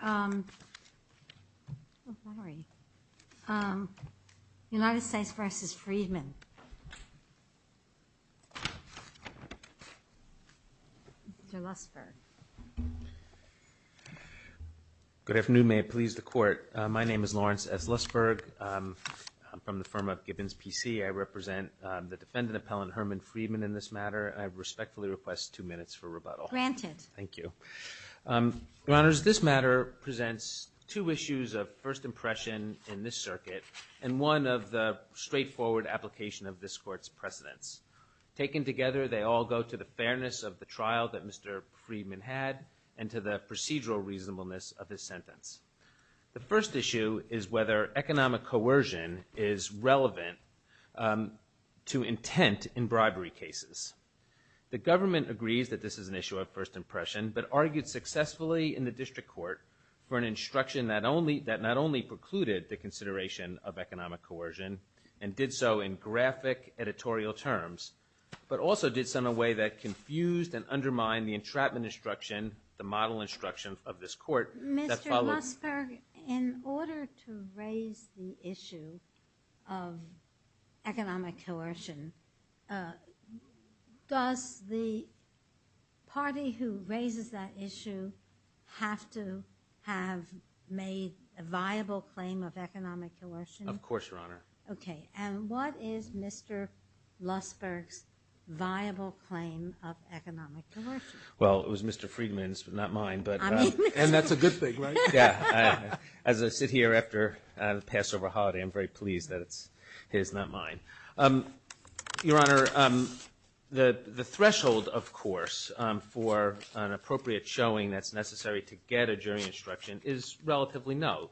Good afternoon, may it please the Court. My name is Lawrence S. Lussberg, I'm from the firm of Gibbons PC, I represent the defendant appellant Herman Friedman in this matter, I respectfully request two minutes for rebuttal. Granted. Thank you. Your honors, this matter presents two issues of first impression in this circuit and one of the straightforward application of this court's precedents. Taken together, they all go to the fairness of the trial that Mr. Friedman had and to the procedural reasonableness of his sentence. The first issue is whether economic coercion is relevant to intent in bribery cases. The government agrees that this is an issue of first impression, but argued successfully in the district court for an instruction that not only precluded the consideration of economic coercion and did so in graphic editorial terms, but also did so in a way that confused and undermined the entrapment instruction, the model instruction of this court that followed. Mr. Lussberg, in order to raise the issue of economic coercion, does the party who raises that issue have to have made a viable claim of economic coercion? Of course, your honor. Okay. And what is Mr. Lussberg's viable claim of economic coercion? Well, it was Mr. Friedman's, but not mine, but. And that's a good thing, right? Yeah. As I sit here after the Passover holiday, I'm very pleased that it's his, not mine. Your honor, the threshold, of course, for an appropriate showing that's necessary to get a jury instruction is relatively low.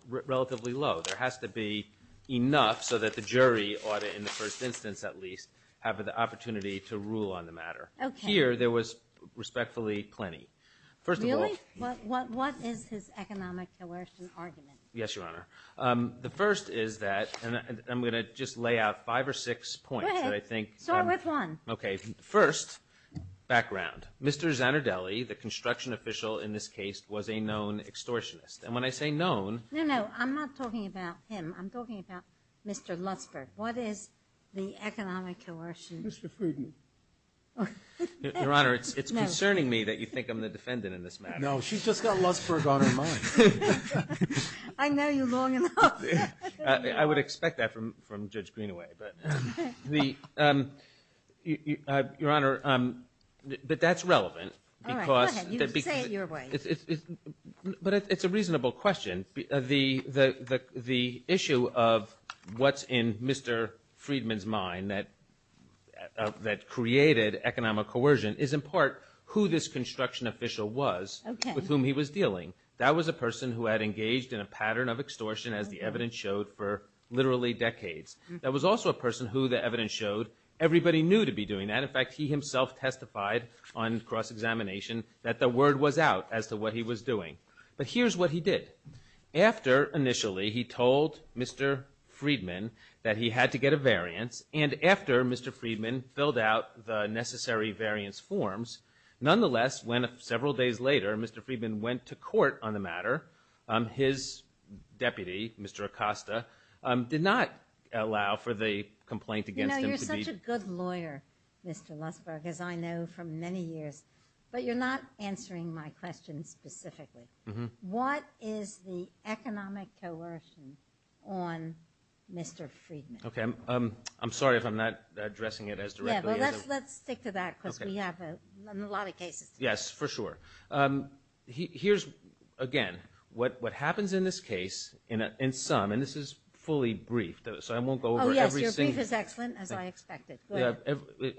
There has to be enough so that the jury ought to, in the first instance at least, have the opportunity to rule on the matter. Here, there was respectfully plenty. First of all. Really? What is his economic coercion argument? Yes, your honor. The first is that, and I'm going to just lay out five or six points that I think. Go ahead. Start with one. Okay. First, background. Mr. Zanardelli, the construction official in this case, was a known extortionist. And when I say known. No, no. I'm not talking about him. I'm talking about Mr. Lussberg. What is the economic coercion? Mr. Friedman. Your honor, it's concerning me that you think I'm the defendant in this matter. No, she's just got Lussberg on her mind. I know you long enough. I would expect that from Judge Greenaway. Your honor, but that's relevant. All right. Go ahead. You say it your way. But it's a reasonable question. The issue of what's in Mr. Friedman's mind that created economic coercion is in part who this construction official was with whom he was dealing. That was a person who had engaged in a pattern of extortion as the evidence showed for literally decades. That was also a person who the evidence showed everybody knew to be doing that. In fact, he himself testified on cross-examination that the word was out as to what he was doing. But here's what he did. After initially he told Mr. Friedman that he had to get a variance, and after Mr. Friedman filled out the necessary variance forms, nonetheless, when several days later Mr. Friedman went to court on the matter, his deputy, Mr. Acosta, did not allow for the complaint against him to be... You know, you're such a good lawyer, Mr. Lussberg, as I know from many years. But you're not answering my question specifically. Mm-hmm. What is the economic coercion on Mr. Friedman? Okay, I'm sorry if I'm not addressing it as directly. Yeah, well, let's stick to that because we have a lot of cases. Yes, for sure. Here's, again, what happens in this case in some, and this is fully briefed, so I won't go over every single... Oh, yes, your brief is excellent, as I expected. Good.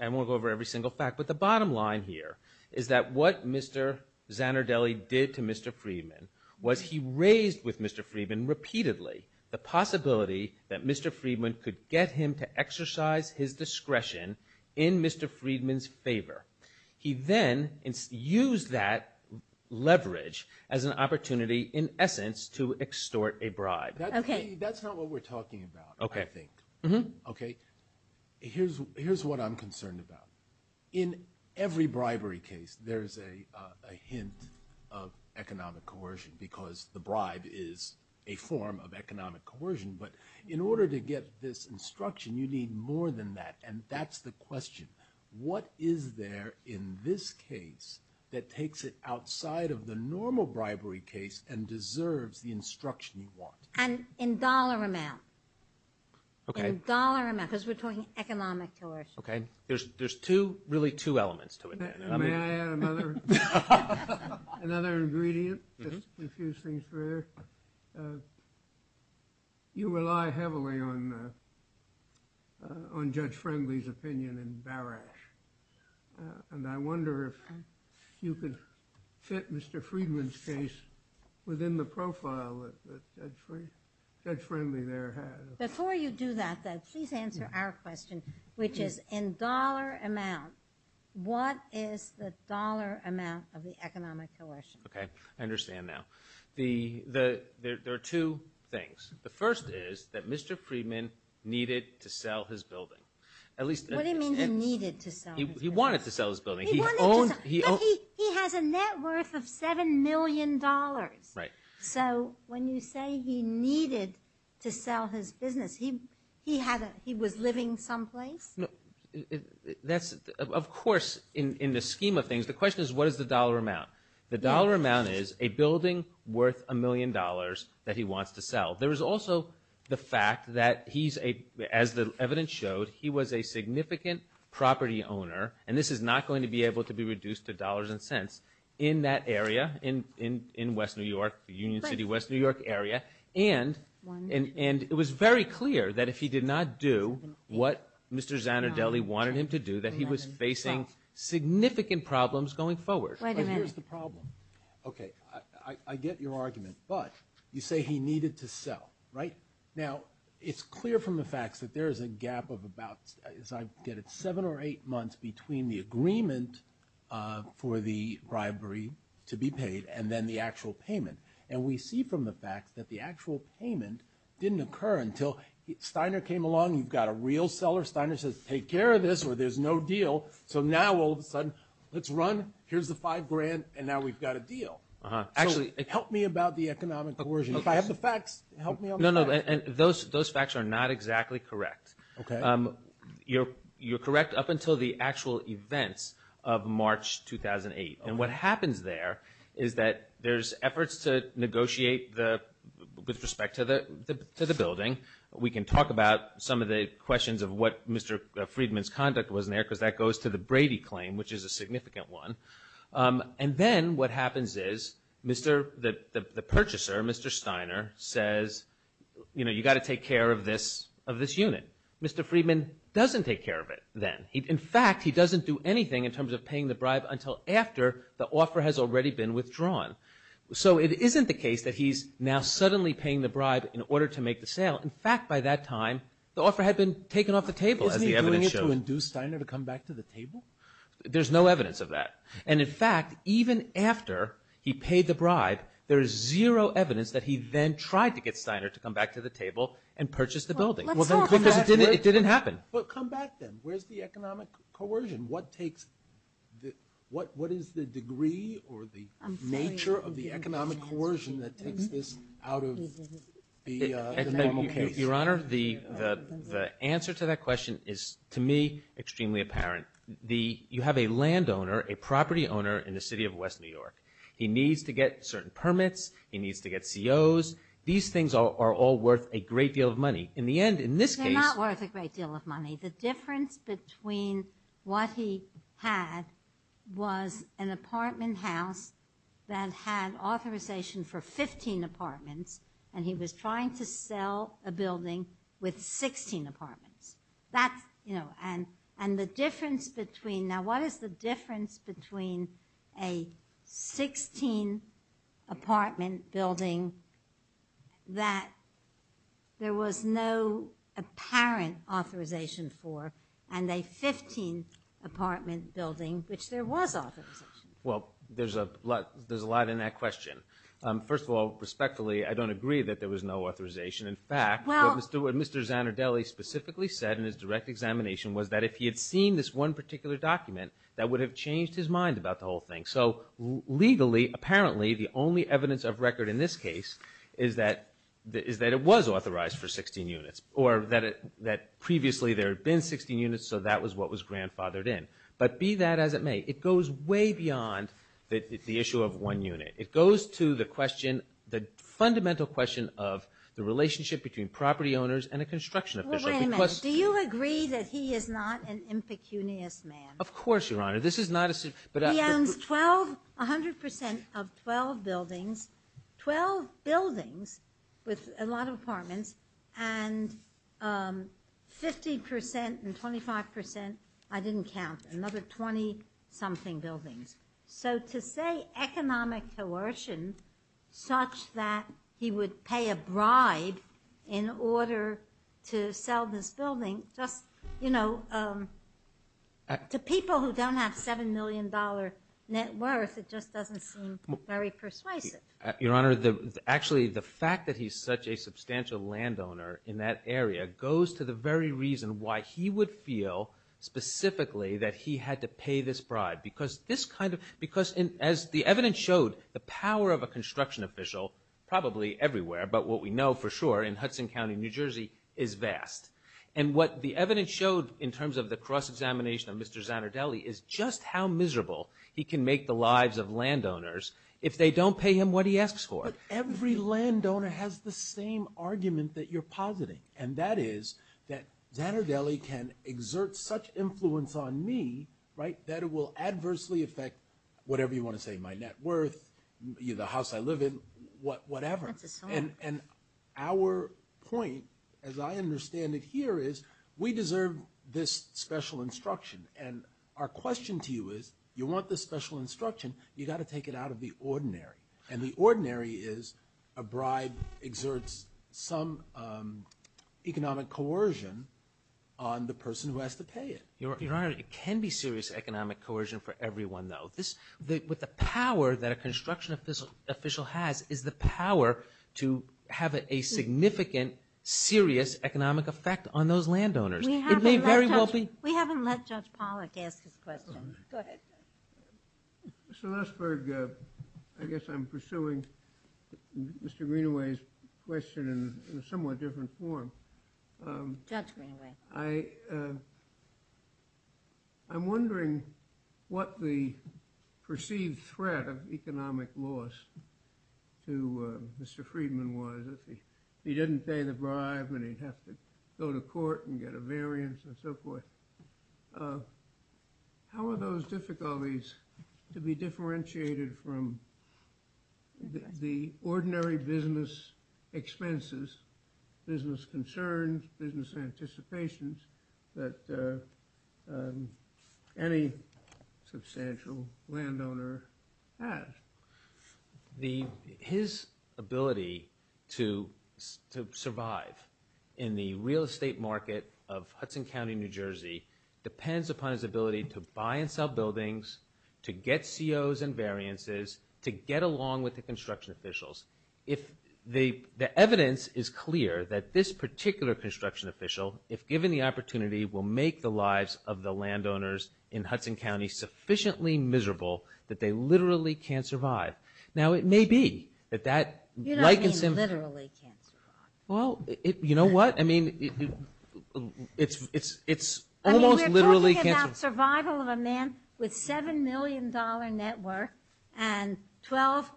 I won't go over every single fact. But the bottom line here is that what Mr. Zanardelli did to Mr. Friedman was he raised with Mr. Friedman repeatedly the possibility that Mr. Friedman could get him to exercise his discretion in Mr. Friedman's favor. He then used that leverage as an opportunity, in essence, to extort a bribe. Okay. That's not what we're talking about, I think. Mm-hmm. Okay? Here's what I'm concerned about. In every bribery case, there's a hint of economic coercion because the bribe is a form of economic coercion. But in order to get this instruction, you need more than that. And that's the question. What is there in this case that takes it outside of the normal bribery case and deserves the instruction you want? And in dollar amount. Okay. In dollar amount, because we're talking economic coercion. Okay. There's two, really two elements to it. May I add another ingredient? Mm-hmm. Just to confuse things further. You rely heavily on Judge Friendly's opinion in Barash. And I wonder if you could fit Mr. Friedman's case within the profile that Judge Friendly there has. Before you do that, though, please answer our question, which is in dollar amount, what is the dollar amount of the economic coercion? Okay. I understand now. There are two things. The first is that Mr. Friedman needed to sell his building. What do you mean he needed to sell his building? He wanted to sell his building. He wanted to sell. But he has a net worth of $7 million. Right. So when you say he needed to sell his business, he had a, he was living someplace? That's, of course, in the scheme of things, the question is what is the dollar amount? The dollar amount is a building worth a million dollars that he wants to sell. There is also the fact that he's a, as the evidence showed, he was a significant property owner, and this is not going to be able to be reduced to dollars and cents. In that area, in West New York, Union City, West New York area, and it was very clear that if he did not do what Mr. Zanardelli wanted him to do, that he was facing significant problems going forward. Wait a minute. Here's the problem. Okay. I get your argument, but you say he needed to sell, right? Now, it's clear from the facts that there is a gap of about, as I get it, seven or eight to be paid, and then the actual payment. And we see from the facts that the actual payment didn't occur until Steiner came along. You've got a real seller. Steiner says, take care of this, or there's no deal. So now, all of a sudden, let's run. Here's the five grand, and now we've got a deal. Actually, help me about the economic coercion. If I have the facts, help me on the facts. No, no, and those facts are not exactly correct. Okay. You're correct up until the actual events of March 2008. And what happens there is that there's efforts to negotiate with respect to the building. We can talk about some of the questions of what Mr. Friedman's conduct was in there, because that goes to the Brady claim, which is a significant one. And then what happens is the purchaser, Mr. Steiner, says, you've got to take care of this unit. Mr. Friedman doesn't take care of it then. In fact, he doesn't do anything in terms of paying the bribe until after the offer has already been withdrawn. So it isn't the case that he's now suddenly paying the bribe in order to make the sale. In fact, by that time, the offer had been taken off the table, as the evidence showed. Isn't he doing it to induce Steiner to come back to the table? There's no evidence of that. And, in fact, even after he paid the bribe, there is zero evidence that he then tried to get Steiner to come back to the table and purchase the building. Well, let's talk about it. Because it didn't happen. Well, come back then. Where's the economic coercion? What is the degree or the nature of the economic coercion that takes this out of the normal case? Your Honor, the answer to that question is, to me, extremely apparent. You have a landowner, a property owner in the city of West New York. He needs to get certain permits. He needs to get COs. These things are all worth a great deal of money. In the end, in this case- They're not worth a great deal of money. The difference between what he had was an apartment house that had authorization for 15 apartments, and he was trying to sell a building with 16 apartments. That's, you know, and the difference between- apparent authorization for and a 15 apartment building, which there was authorization for. Well, there's a lot in that question. First of all, respectfully, I don't agree that there was no authorization. In fact, what Mr. Zanardelli specifically said in his direct examination was that if he had seen this one particular document, that would have changed his mind about the whole thing. So legally, apparently, the only evidence of record in this case is that it was authorized for 16 units, or that previously there had been 16 units, so that was what was grandfathered in. But be that as it may, it goes way beyond the issue of one unit. It goes to the question, the fundamental question of the relationship between property owners and a construction official. Well, wait a minute. Do you agree that he is not an impecunious man? Of course, Your Honor. This is not a- He owns 12, 100% of 12 buildings, 12 buildings with a lot of apartments, and 50% and 25%, I didn't count, another 20-something buildings. So to say economic coercion such that he would pay a bribe in order to sell this building, just, you know, to people who don't have $7 million net worth, it just doesn't seem very persuasive. Your Honor, actually, the fact that he's such a substantial landowner in that area goes to the very reason why he would feel specifically that he had to pay this bribe, because as the evidence showed, the power of a construction official, probably everywhere, but what we know for sure in Hudson County, New Jersey, is vast. And what the evidence showed in terms of the cross-examination of Mr. Zanardelli is just how miserable he can make the lives of landowners if they don't pay him what he asks for. But every landowner has the same argument that you're positing, and that is that Zanardelli can exert such influence on me, right, that it will adversely affect whatever you want to say, my net worth, the house I live in, whatever. That's a song. And our point, as I understand it here, is we deserve this special instruction. And our question to you is you want this special instruction, you've got to take it out of the ordinary. And the ordinary is a bribe exerts some economic coercion on the person who has to pay it. Your Honor, it can be serious economic coercion for everyone, though. What the power that a construction official has is the power to have a significant, serious economic effect on those landowners. It may very well be- We haven't let Judge Pollack ask his question. Go ahead, Judge. Mr. Lesburg, I guess I'm pursuing Mr. Greenaway's question in a somewhat different form. Judge Greenaway. I'm wondering what the perceived threat of economic loss to Mr. Friedman was. If he didn't pay the bribe and he'd have to go to court and get a variance and so forth, how are those difficulties to be differentiated from the ordinary business expenses, business concerns, business anticipations that any substantial landowner has? His ability to survive in the real estate market of Hudson County, New Jersey, depends upon his ability to buy and sell buildings, to get COs and variances, to get along with the construction officials. The evidence is clear that this particular construction official, if given the opportunity, will make the lives of the landowners in Hudson County sufficiently miserable that they literally can't survive. Now, it may be that that- You don't mean literally can't survive. Well, you know what? I mean, it's almost literally- It's about survival of a man with a $7 million network and 12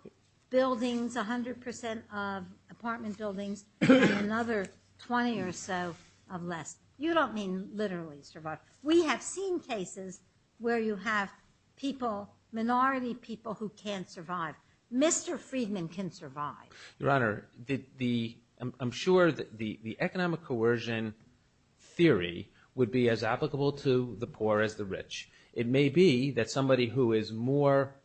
buildings, 100% of apartment buildings, and another 20 or so of less. You don't mean literally survive. We have seen cases where you have people, minority people, who can't survive. Mr. Friedman can survive. Your Honor, I'm sure that the economic coercion theory would be as applicable to the poor as the rich. It may be that somebody who is more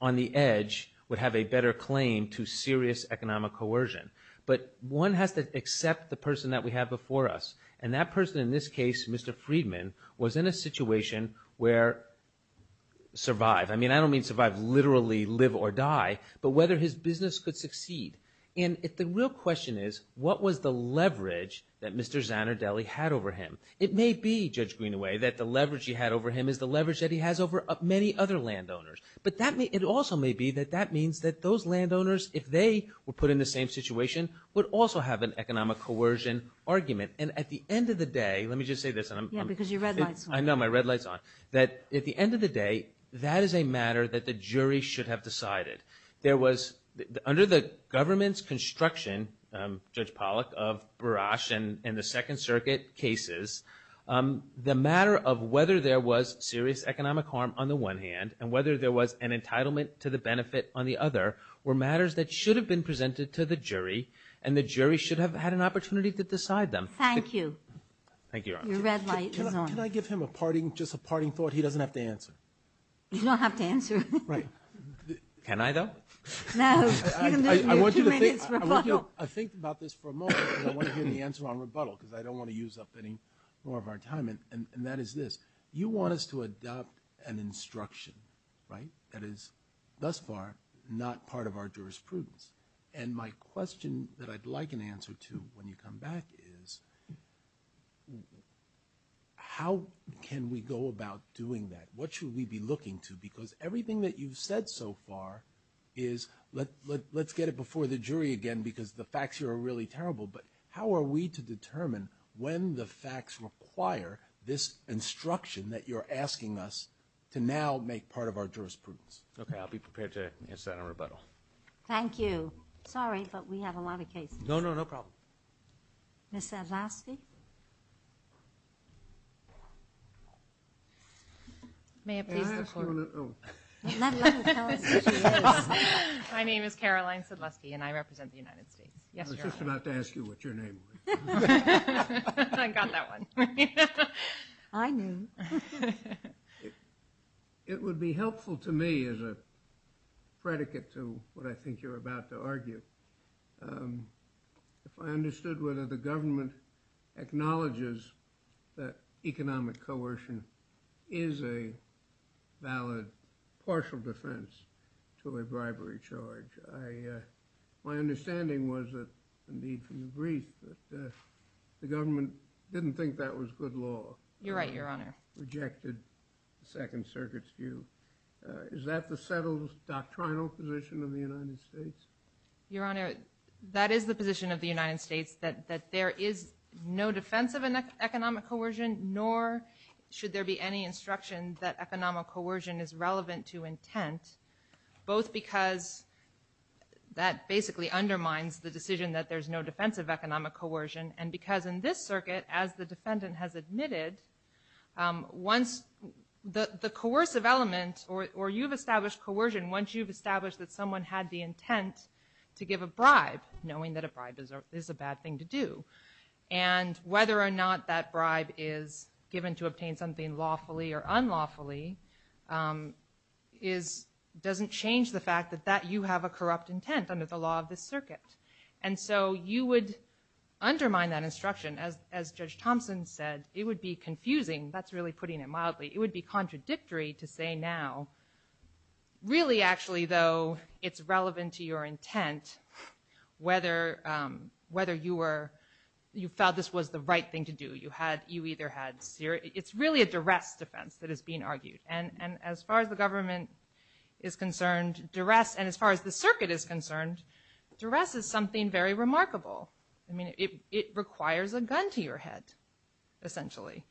on the edge would have a better claim to serious economic coercion. But one has to accept the person that we have before us. And that person, in this case, Mr. Friedman, was in a situation where survive- And the real question is, what was the leverage that Mr. Zanardelli had over him? It may be, Judge Greenaway, that the leverage he had over him is the leverage that he has over many other landowners. But it also may be that that means that those landowners, if they were put in the same situation, would also have an economic coercion argument. And at the end of the day- Let me just say this. Yeah, because your red light's on. I know. My red light's on. That at the end of the day, that is a matter that the jury should have decided. There was- Under the government's construction, Judge Pollack, of Barash and the Second Circuit cases, the matter of whether there was serious economic harm on the one hand and whether there was an entitlement to the benefit on the other were matters that should have been presented to the jury, and the jury should have had an opportunity to decide them. Thank you. Thank you, Your Honor. Your red light is on. Can I give him just a parting thought he doesn't have to answer? You don't have to answer. Right. Can I, though? No. I want you to think about this for a moment because I want to hear the answer on rebuttal because I don't want to use up any more of our time, and that is this. You want us to adopt an instruction, right, that is thus far not part of our jurisprudence. And my question that I'd like an answer to when you come back is how can we go about doing that? What should we be looking to? Because everything that you've said so far is let's get it before the jury again because the facts here are really terrible, but how are we to determine when the facts require this instruction that you're asking us to now make part of our jurisprudence? I'll be prepared to answer that on rebuttal. Thank you. Sorry, but we have a lot of cases. No, no, no problem. Ms. Sedlowski? May I ask you a question? My name is Caroline Sedlowski, and I represent the United States. I was just about to ask you what your name was. I got that one. I knew. It would be helpful to me as a predicate to what I think you're about to argue if I understood whether the government acknowledges that economic coercion is a valid partial defense to a bribery charge. My understanding was that, indeed from the brief, that the government didn't think that was good law. You're right, Your Honor. Rejected the Second Circuit's view. Is that the settled doctrinal position of the United States? Your Honor, that is the position of the United States, that there is no defense of economic coercion, nor should there be any instruction that economic coercion is relevant to intent, both because that basically undermines the decision that there's no defense of economic coercion, and because in this circuit, as the defendant has admitted, once the coercive element, or you've established coercion, once you've established that someone had the intent to give a bribe, knowing that a bribe is a bad thing to do, and whether or not that bribe is given to obtain something lawfully or unlawfully, doesn't change the fact that you have a corrupt intent under the law of this circuit. And so you would undermine that instruction. As Judge Thompson said, it would be confusing. That's really putting it mildly. It would be contradictory to say now, really actually though, it's relevant to your intent, whether you felt this was the right thing to do. You either had serious, it's really a duress defense that is being argued. And as far as the government is concerned, duress, and as far as the circuit is concerned, duress is something very remarkable. I mean, it requires a gun to your head, essentially.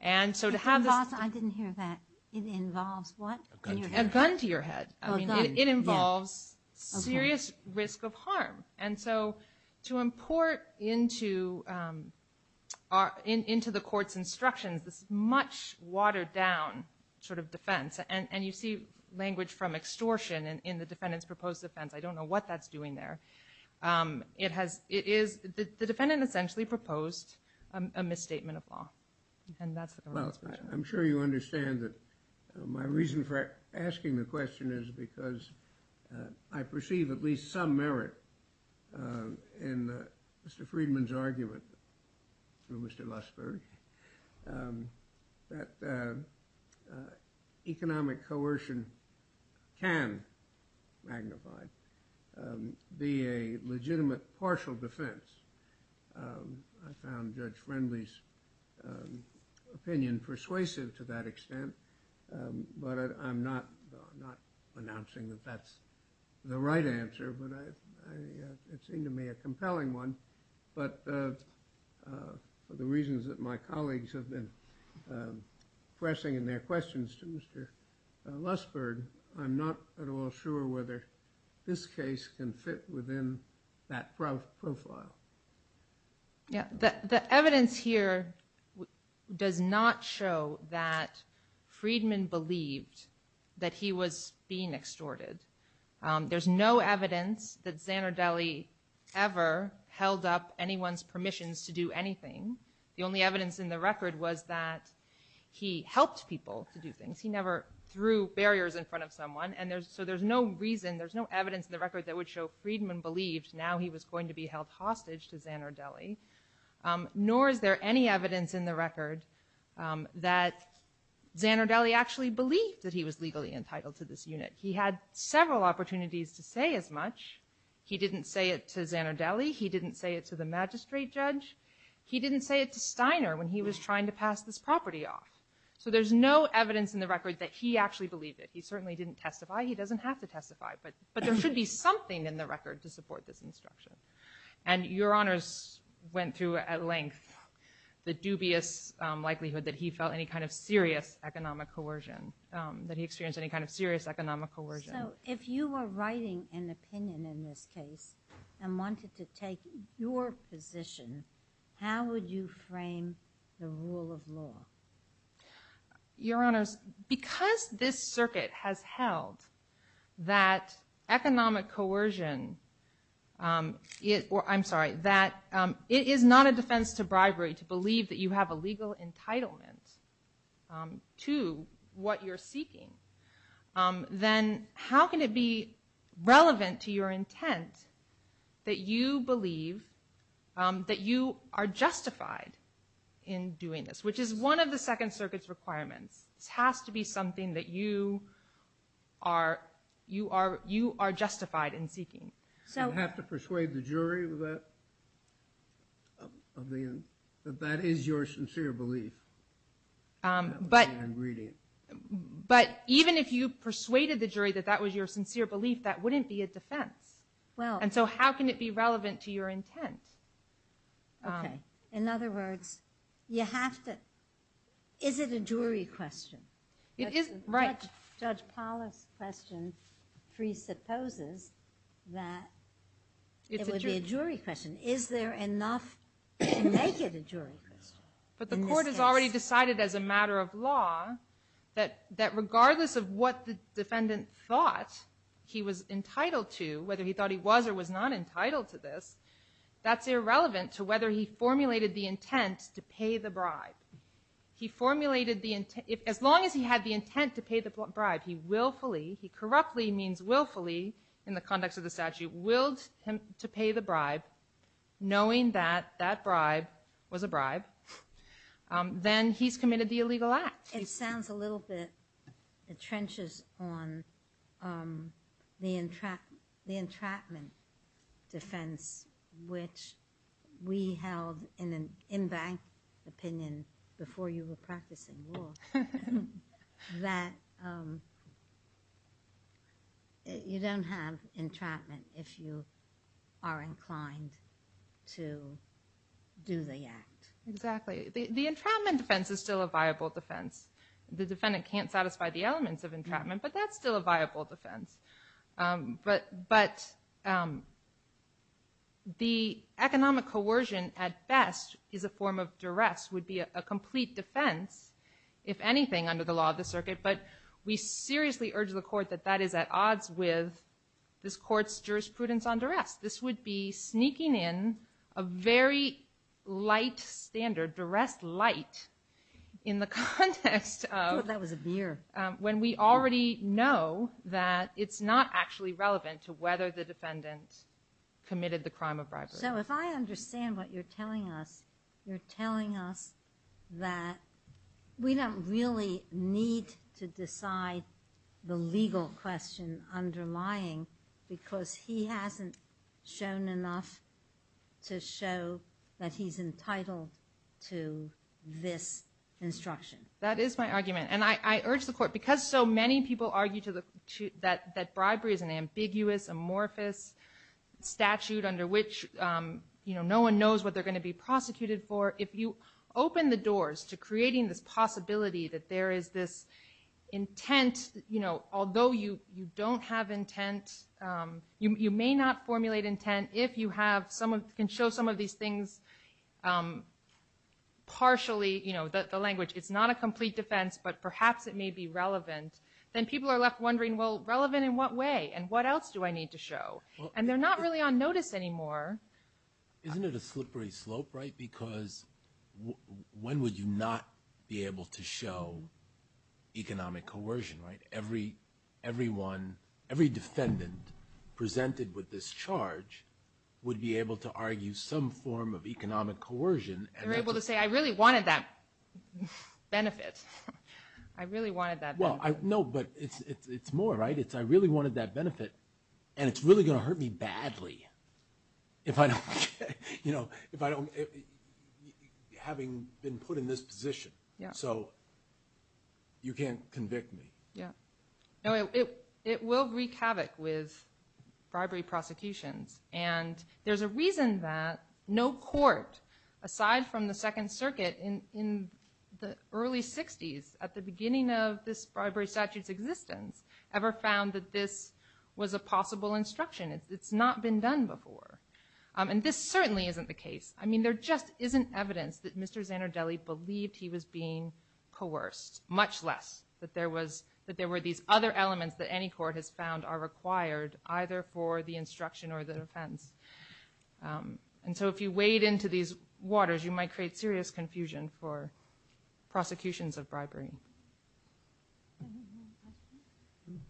And so to have this- I didn't hear that. It involves what? A gun to your head. A gun to your head. I mean, it involves serious risk of harm. And so to import into the court's instructions this much watered down sort of defense, and you see language from extortion in the defendant's proposed offense. I don't know what that's doing there. It is, the defendant essentially proposed a misstatement of law. And that's the government's position. Well, I'm sure you understand that my reason for asking the question is because I perceive at least some merit in Mr. Friedman's argument through Mr. Luskberg that economic coercion can magnify, be a legitimate partial defense. I found Judge Friendly's opinion persuasive to that extent, but I'm not announcing that that's the right answer, but it seemed to me a compelling one. But for the reasons that my colleagues have been pressing in their questions to Mr. Luskberg, I'm not at all sure whether this case can fit within that profile. The evidence here does not show that Friedman believed that he was being extorted. There's no evidence that Zanardelli ever held up anyone's permissions to do anything. The only evidence in the record was that he helped people to do things. He never threw barriers in front of someone. So there's no reason, there's no evidence in the record that would show Friedman believed now he was going to be held hostage to Zanardelli, nor is there any evidence in the record that Zanardelli actually believed that he was legally entitled to this unit. He had several opportunities to say as much. He didn't say it to Zanardelli. He didn't say it to the magistrate judge. He didn't say it to Steiner when he was trying to pass this property off. So there's no evidence in the record that he actually believed it. He certainly didn't testify. He doesn't have to testify, but there's no evidence in the record that Zanardelli actually believed it. And your honors went through at length the dubious likelihood that he felt any kind of serious economic coercion, that he experienced any kind of serious economic coercion. So if you were writing an opinion in this case and wanted to take your position, how would you frame the rule of law? Your honors, because this circuit has held that economic coercion or I'm sorry, that it is not a defense to bribery to believe that you have a legal entitlement to what you're seeking, then how can it be relevant to your intent that you believe that you are justified in doing this, which is one of the Second Circuit's requirements. This has to be something that you are justified in seeking. You have to persuade the jury that that is your sincere belief. But even if you persuaded the jury that that was your sincere belief, that wouldn't be a defense. And so how can it be relevant to your intent? Okay, in other words, you have to, is it a jury question? It is, right. Judge Paula's question presupposes that it would be a jury question. Is there enough to make it a jury question? But the court has already decided as a matter of law that regardless of what the defendant thought he was entitled to, whether he thought he was or was not entitled to this, that's irrelevant to whether he formulated the intent to pay the bribe. He formulated the intent, as long as he had the intent to pay the bribe, he willfully, he corruptly means willfully, in the context of the statute, willed him to pay the bribe knowing that that bribe was a bribe, then he's committed the illegal act. It sounds a little bit, it trenches on the entrapment defense which we held in an in-bank opinion before you were practicing law that you don't have entrapment if you are inclined to do the act. Exactly, the entrapment defense is still a viable defense. The defendant can't satisfy the elements of entrapment but that's still a viable defense. But the economic coercion at best is a form of duress, would be a complete defense if anything under the law of the circuit, but we seriously urge the court that that is at odds with this court's jurisprudence on duress. This would be sneaking in a very light standard, duress light, in the context of... I thought that was a beer. When we already know that it's not actually relevant to whether the defendant committed the crime of bribery. So if I understand what you're telling us, you're telling us that we don't really need to decide the legal question underlying because he hasn't shown enough to show that he's entitled to this instruction. That is my argument and I urge the court because so many people argue that bribery is an ambiguous, amorphous statute under which no one knows what they're going to be prosecuted for. If you open the doors to creating this possibility that there is this intent, although you don't have intent, you may not formulate intent if you can show some of these things partially, the language, it's not a complete defense, but perhaps it may be relevant, then people are left wondering, well, relevant in what way and what else do I need to show? And they're not really on notice anymore. Isn't it a slippery slope, right? Because when would you not be able to show economic coercion, right? Every defendant presented with this charge would be able to argue some form of economic coercion. They're able to say, I really wanted that benefit. I really wanted that benefit. No, but it's more, right? It's I really wanted that benefit and it's going to hurt me badly if I don't, you know, if I don't, having been put in this position. So you can't convict me. Yeah. No, it will wreak havoc with bribery prosecutions and there's a reason that no court aside from the Second Circuit in the early 60s at the beginning of this bribery statute's existence ever found that this evidence, it's not been done before. And this certainly isn't the case. I mean, there just isn't evidence that Mr. Zanardelli believed he was being coerced. Much less that there was, that there were these other elements that any court has found are required either for the instruction or the defense. And so if you wade into these waters you might create serious confusion for prosecutions of bribery. Any more questions?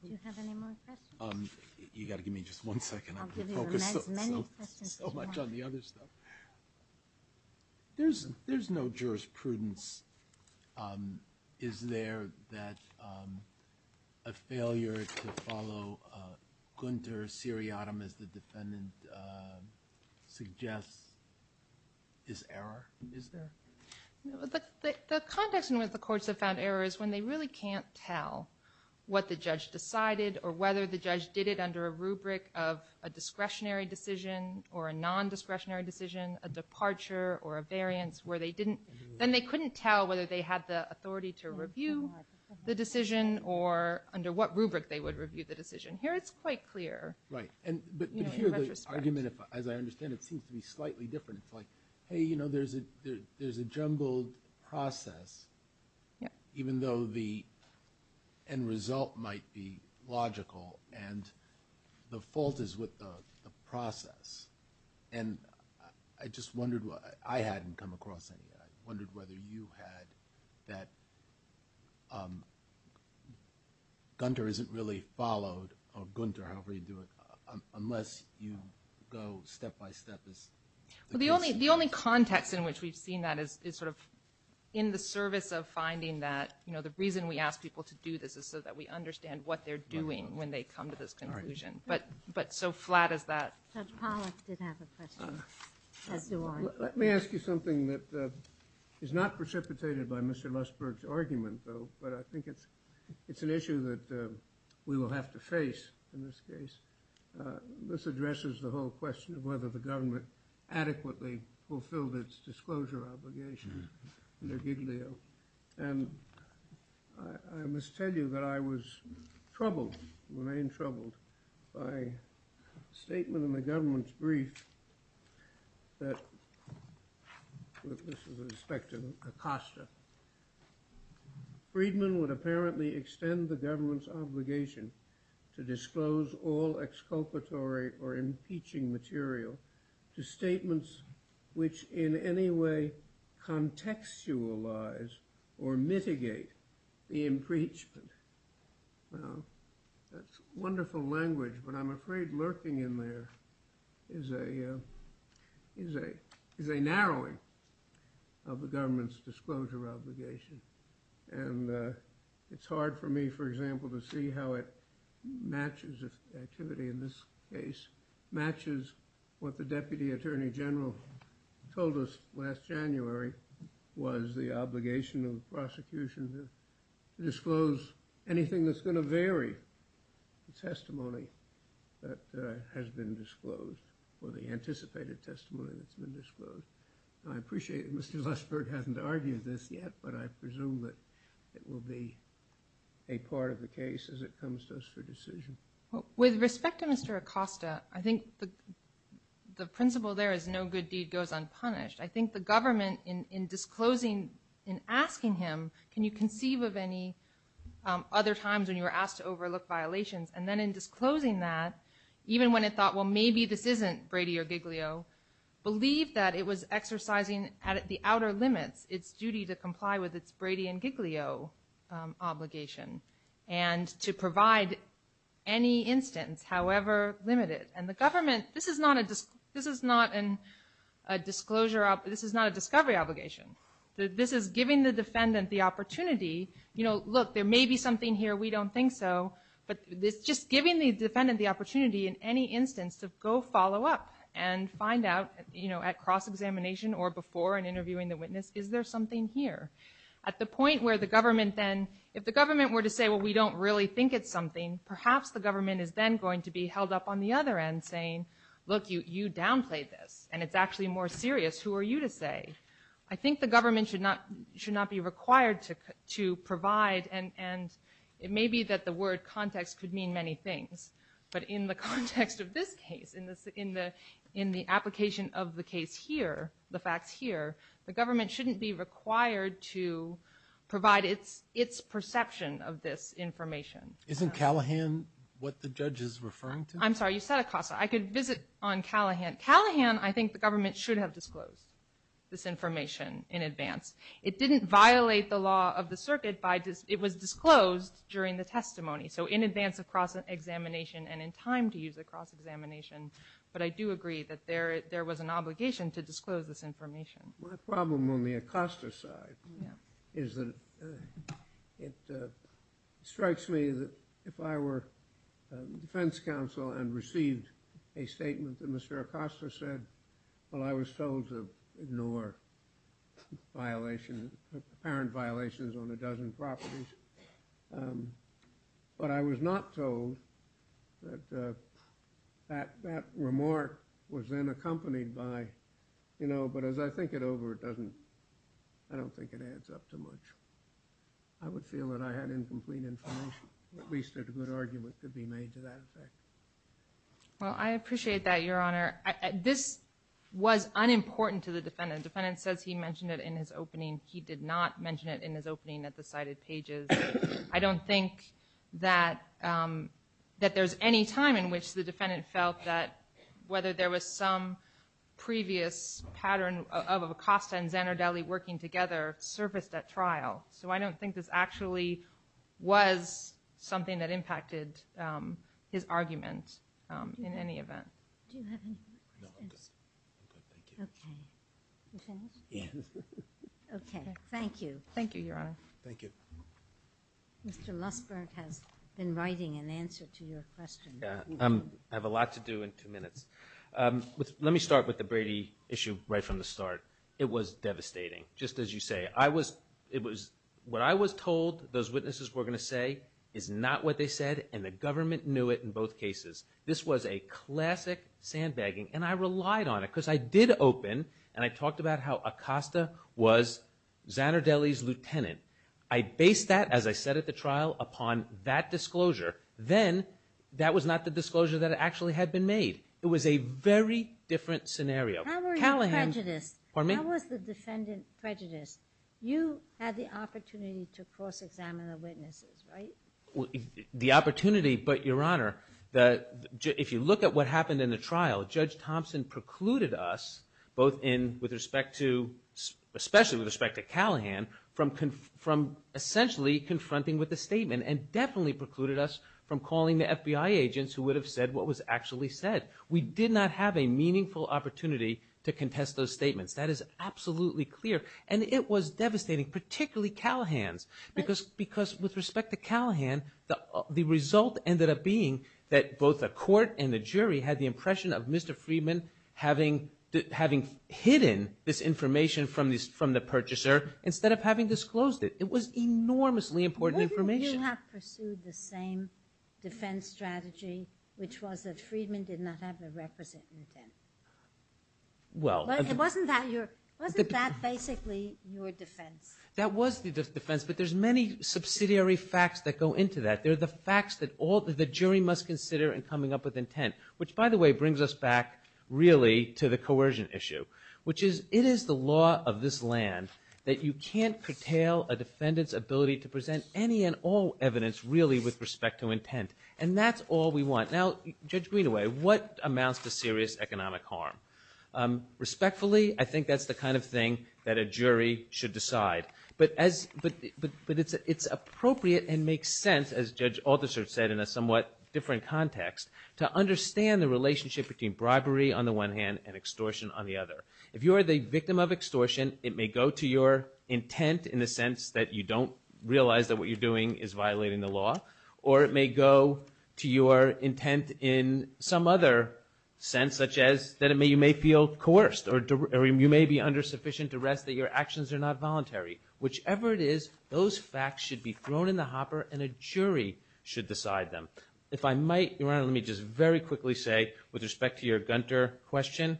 Do you have any more questions? You got to give me just one second. I'm going to focus so much on the other stuff. There's no jurisprudence. Is there that a failure to follow Gunter Siriotam as the defendant suggests is error? Is there? The context in which the courts have found error is when they really can't tell what the judge decided when the judge did it under a rubric of a discretionary decision or a non-discretionary decision, a departure or a variance where they didn't, then they couldn't tell whether they had the authority to review the decision or under what rubric they would review the decision. Here it's quite clear. Right. But here the argument, as I understand it, seems to be slightly different. It's like, hey, you know, there's a jumbled process even though the end result might be logical and the fault is with the process. And I just wondered, I hadn't come across any. I wondered whether you had that Gunter isn't really followed, or Gunter, however you do it, unless you go step by step with this. Well, the only context in which we've seen that is sort of in the service of finding that, you know, the reason we ask people to do this is so that we understand what they're doing when they come to this conclusion. But so flat is that. Judge Pollack did have a question. Let me ask you something that is not precipitated by Mr. Lustberg's argument, but I think it's an issue that we will have to face in this case. This addresses the whole question of whether the government adequately fulfilled its disclosure obligations under Giglio. And I must tell you that I was troubled, when I am troubled, by a statement in the government's brief that, with respect to Acosta, Friedman would apparently extend the government's obligation to disclose all exculpatory or impeaching material to statements which in any way contextualize or mitigate the impeachment. Now, that's wonderful language, but I'm afraid lurking in there is a, is a narrowing of the government's disclosure obligation. And it's hard for me, for example, to see how it matches activity in this case, matches what the Deputy Attorney General told us last January was the obligation of the prosecution to disclose anything that's going to vary the testimony that has been disclosed or the anticipated testimony that's been disclosed. I appreciate that Mr. Lustberg hasn't argued this yet, but I presume that it will be a part of the case as it comes to us for decision. With respect to Mr. Acosta, I think the principle there is no good deed goes unpunished. I think the government in disclosing, in asking him, can you conceive of any other times when you were asked to overlook violations? And then in disclosing that, even when it thought, well, maybe this isn't Brady or Giglio, believed that it was exercising at the outer limits its duty to comply with its Brady and Giglio obligation and to provide any instance, however limited. And the government, this is not a disclosure, this is not a discovery obligation. This is giving the defendant the opportunity, look, there may be something here, we don't think so, but just giving the defendant the opportunity in any instance to go follow up and find out at cross-examination or before and interviewing the witness, is there something here? At the point where the government then, if the government were to say, well, we don't really think it's something, perhaps the government is then going to be held up on the other end saying, look, you downplayed this and it's actually more serious. Who are you to say? I think the government should not be required to provide and it may be that the word context could mean many things, but in the context of this case, in the application of the case here, the facts here, the government shouldn't be required to provide its perception of this information. Isn't Callahan what the judge is referring to? I'm sorry, you said Acosta. I could visit on Callahan. Callahan, I think the government should have disclosed this information in advance. It didn't violate the law of the circuit by, it was disclosed during the testimony, so in advance of cross-examination and in time to use a cross-examination, but I do agree that there was an obligation to disclose this information. My problem on the Acosta side is that it strikes me that if I were defense counsel and received a statement that Mr. Acosta said, well, I was told to ignore violations, apparent violations on a dozen properties, but I was not told that that remark was then accompanied by, you know, but as I think it over, it doesn't, I don't think it adds up too much. I would feel that I had incomplete information. At least a good argument could be made to that effect. Well, I appreciate that, Your Honor. This was unimportant to the defendant. The defendant says he mentioned it in his opening. He did not mention it in his opening at the cited pages. I don't think that, that there's any time in which the defendant felt that whether there was some previous pattern of Acosta and Zanardelli working together surfaced at trial. So I don't think this actually was his argument in any event. Do you have any questions? No, I'm good. I'm good, thank you. Okay. You finished? Yeah. Thank you, Your Honor. Thank you. Mr. Lusberg has been writing an answer to your question. I have a lot to do in two minutes. Let me start with the Brady issue right from the start. It was devastating. Just as you say. I was, it was, what I was told those witnesses were going to say is not what they said and the government knew it in both cases. This was a classic sandbagging and I relied on it because I did open and I talked about how Acosta was Zanardelli's lieutenant. I based that as I said at the trial upon that disclosure. Then that was not the disclosure that actually had been made. It was a very different scenario. How were you prejudiced? Pardon me? How was the defendant prejudiced? You had the opportunity to cross-examine the witnesses, right? The opportunity, but Your Honor, if you look at what happened in the trial, Judge Thompson precluded us both in, with respect to, especially with respect to Callahan from essentially confronting with the statement and definitely precluded us from calling the FBI agents who would have said what was actually said. We did not have a meaningful opportunity to contest those statements. That is absolutely clear and it was devastating, particularly Callahan's because with respect to Callahan, the result ended up being that both the court and the jury had the impression of Mr. Friedman having hidden this information from the purchaser instead of having disclosed it. It was enormously important information. Why didn't you have pursued the same defense strategy which was that Friedman did not have the requisite intent? Wasn't that your, wasn't that basically your defense? That was the defense but there's many subsidiary facts that go into that. They're the facts that the jury must consider in coming up with intent which by the way brings us back really to the coercion issue which is it is the law of this land that you can't curtail a defendant's ability to present any and all evidence really with respect to intent and that's all we want. Now Judge Greenaway what amounts to serious economic harm? Respectfully I think that's the kind of thing that a jury should decide but as, but it's appropriate and makes sense as Judge Althusser said in a somewhat different context to understand the relationship between bribery on the one hand and extortion on the other. If you are the victim of extortion it may go to your intent in the sense that you don't realize that what you're doing is violating the law or it may go to your intent in some other sense such as that you may feel coerced or you may be under sufficient duress that your actions are not voluntary. Whichever it is those facts should be thrown in the hopper and a jury should decide them. If I might Your Honor let me just very quickly say with respect to your Gunter question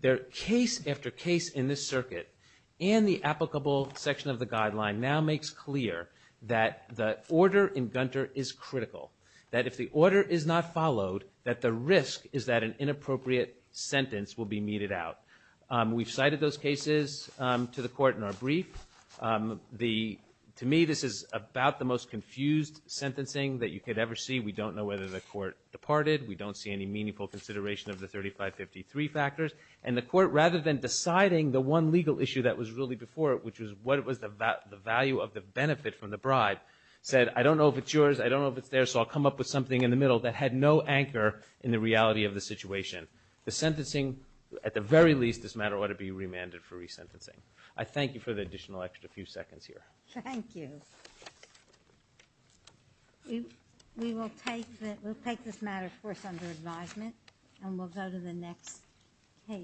there are case after case in this circuit and the applicable section of the court that order in Gunter is critical. That if the order is not followed that the risk is that an inappropriate sentence will be meted out. We've cited those cases to the court in our brief. To me this is about the most confused sentencing that you could ever see. We don't know whether the court departed. We don't see any meaningful consideration of the case. court that I described said I don't know if it's yours I don't know if it's theirs so I'll come up with something in the middle that had no anchor in the reality of the situation. The sentencing at the very least this matter ought to be remanded for resentencing. I thank you for the additional time.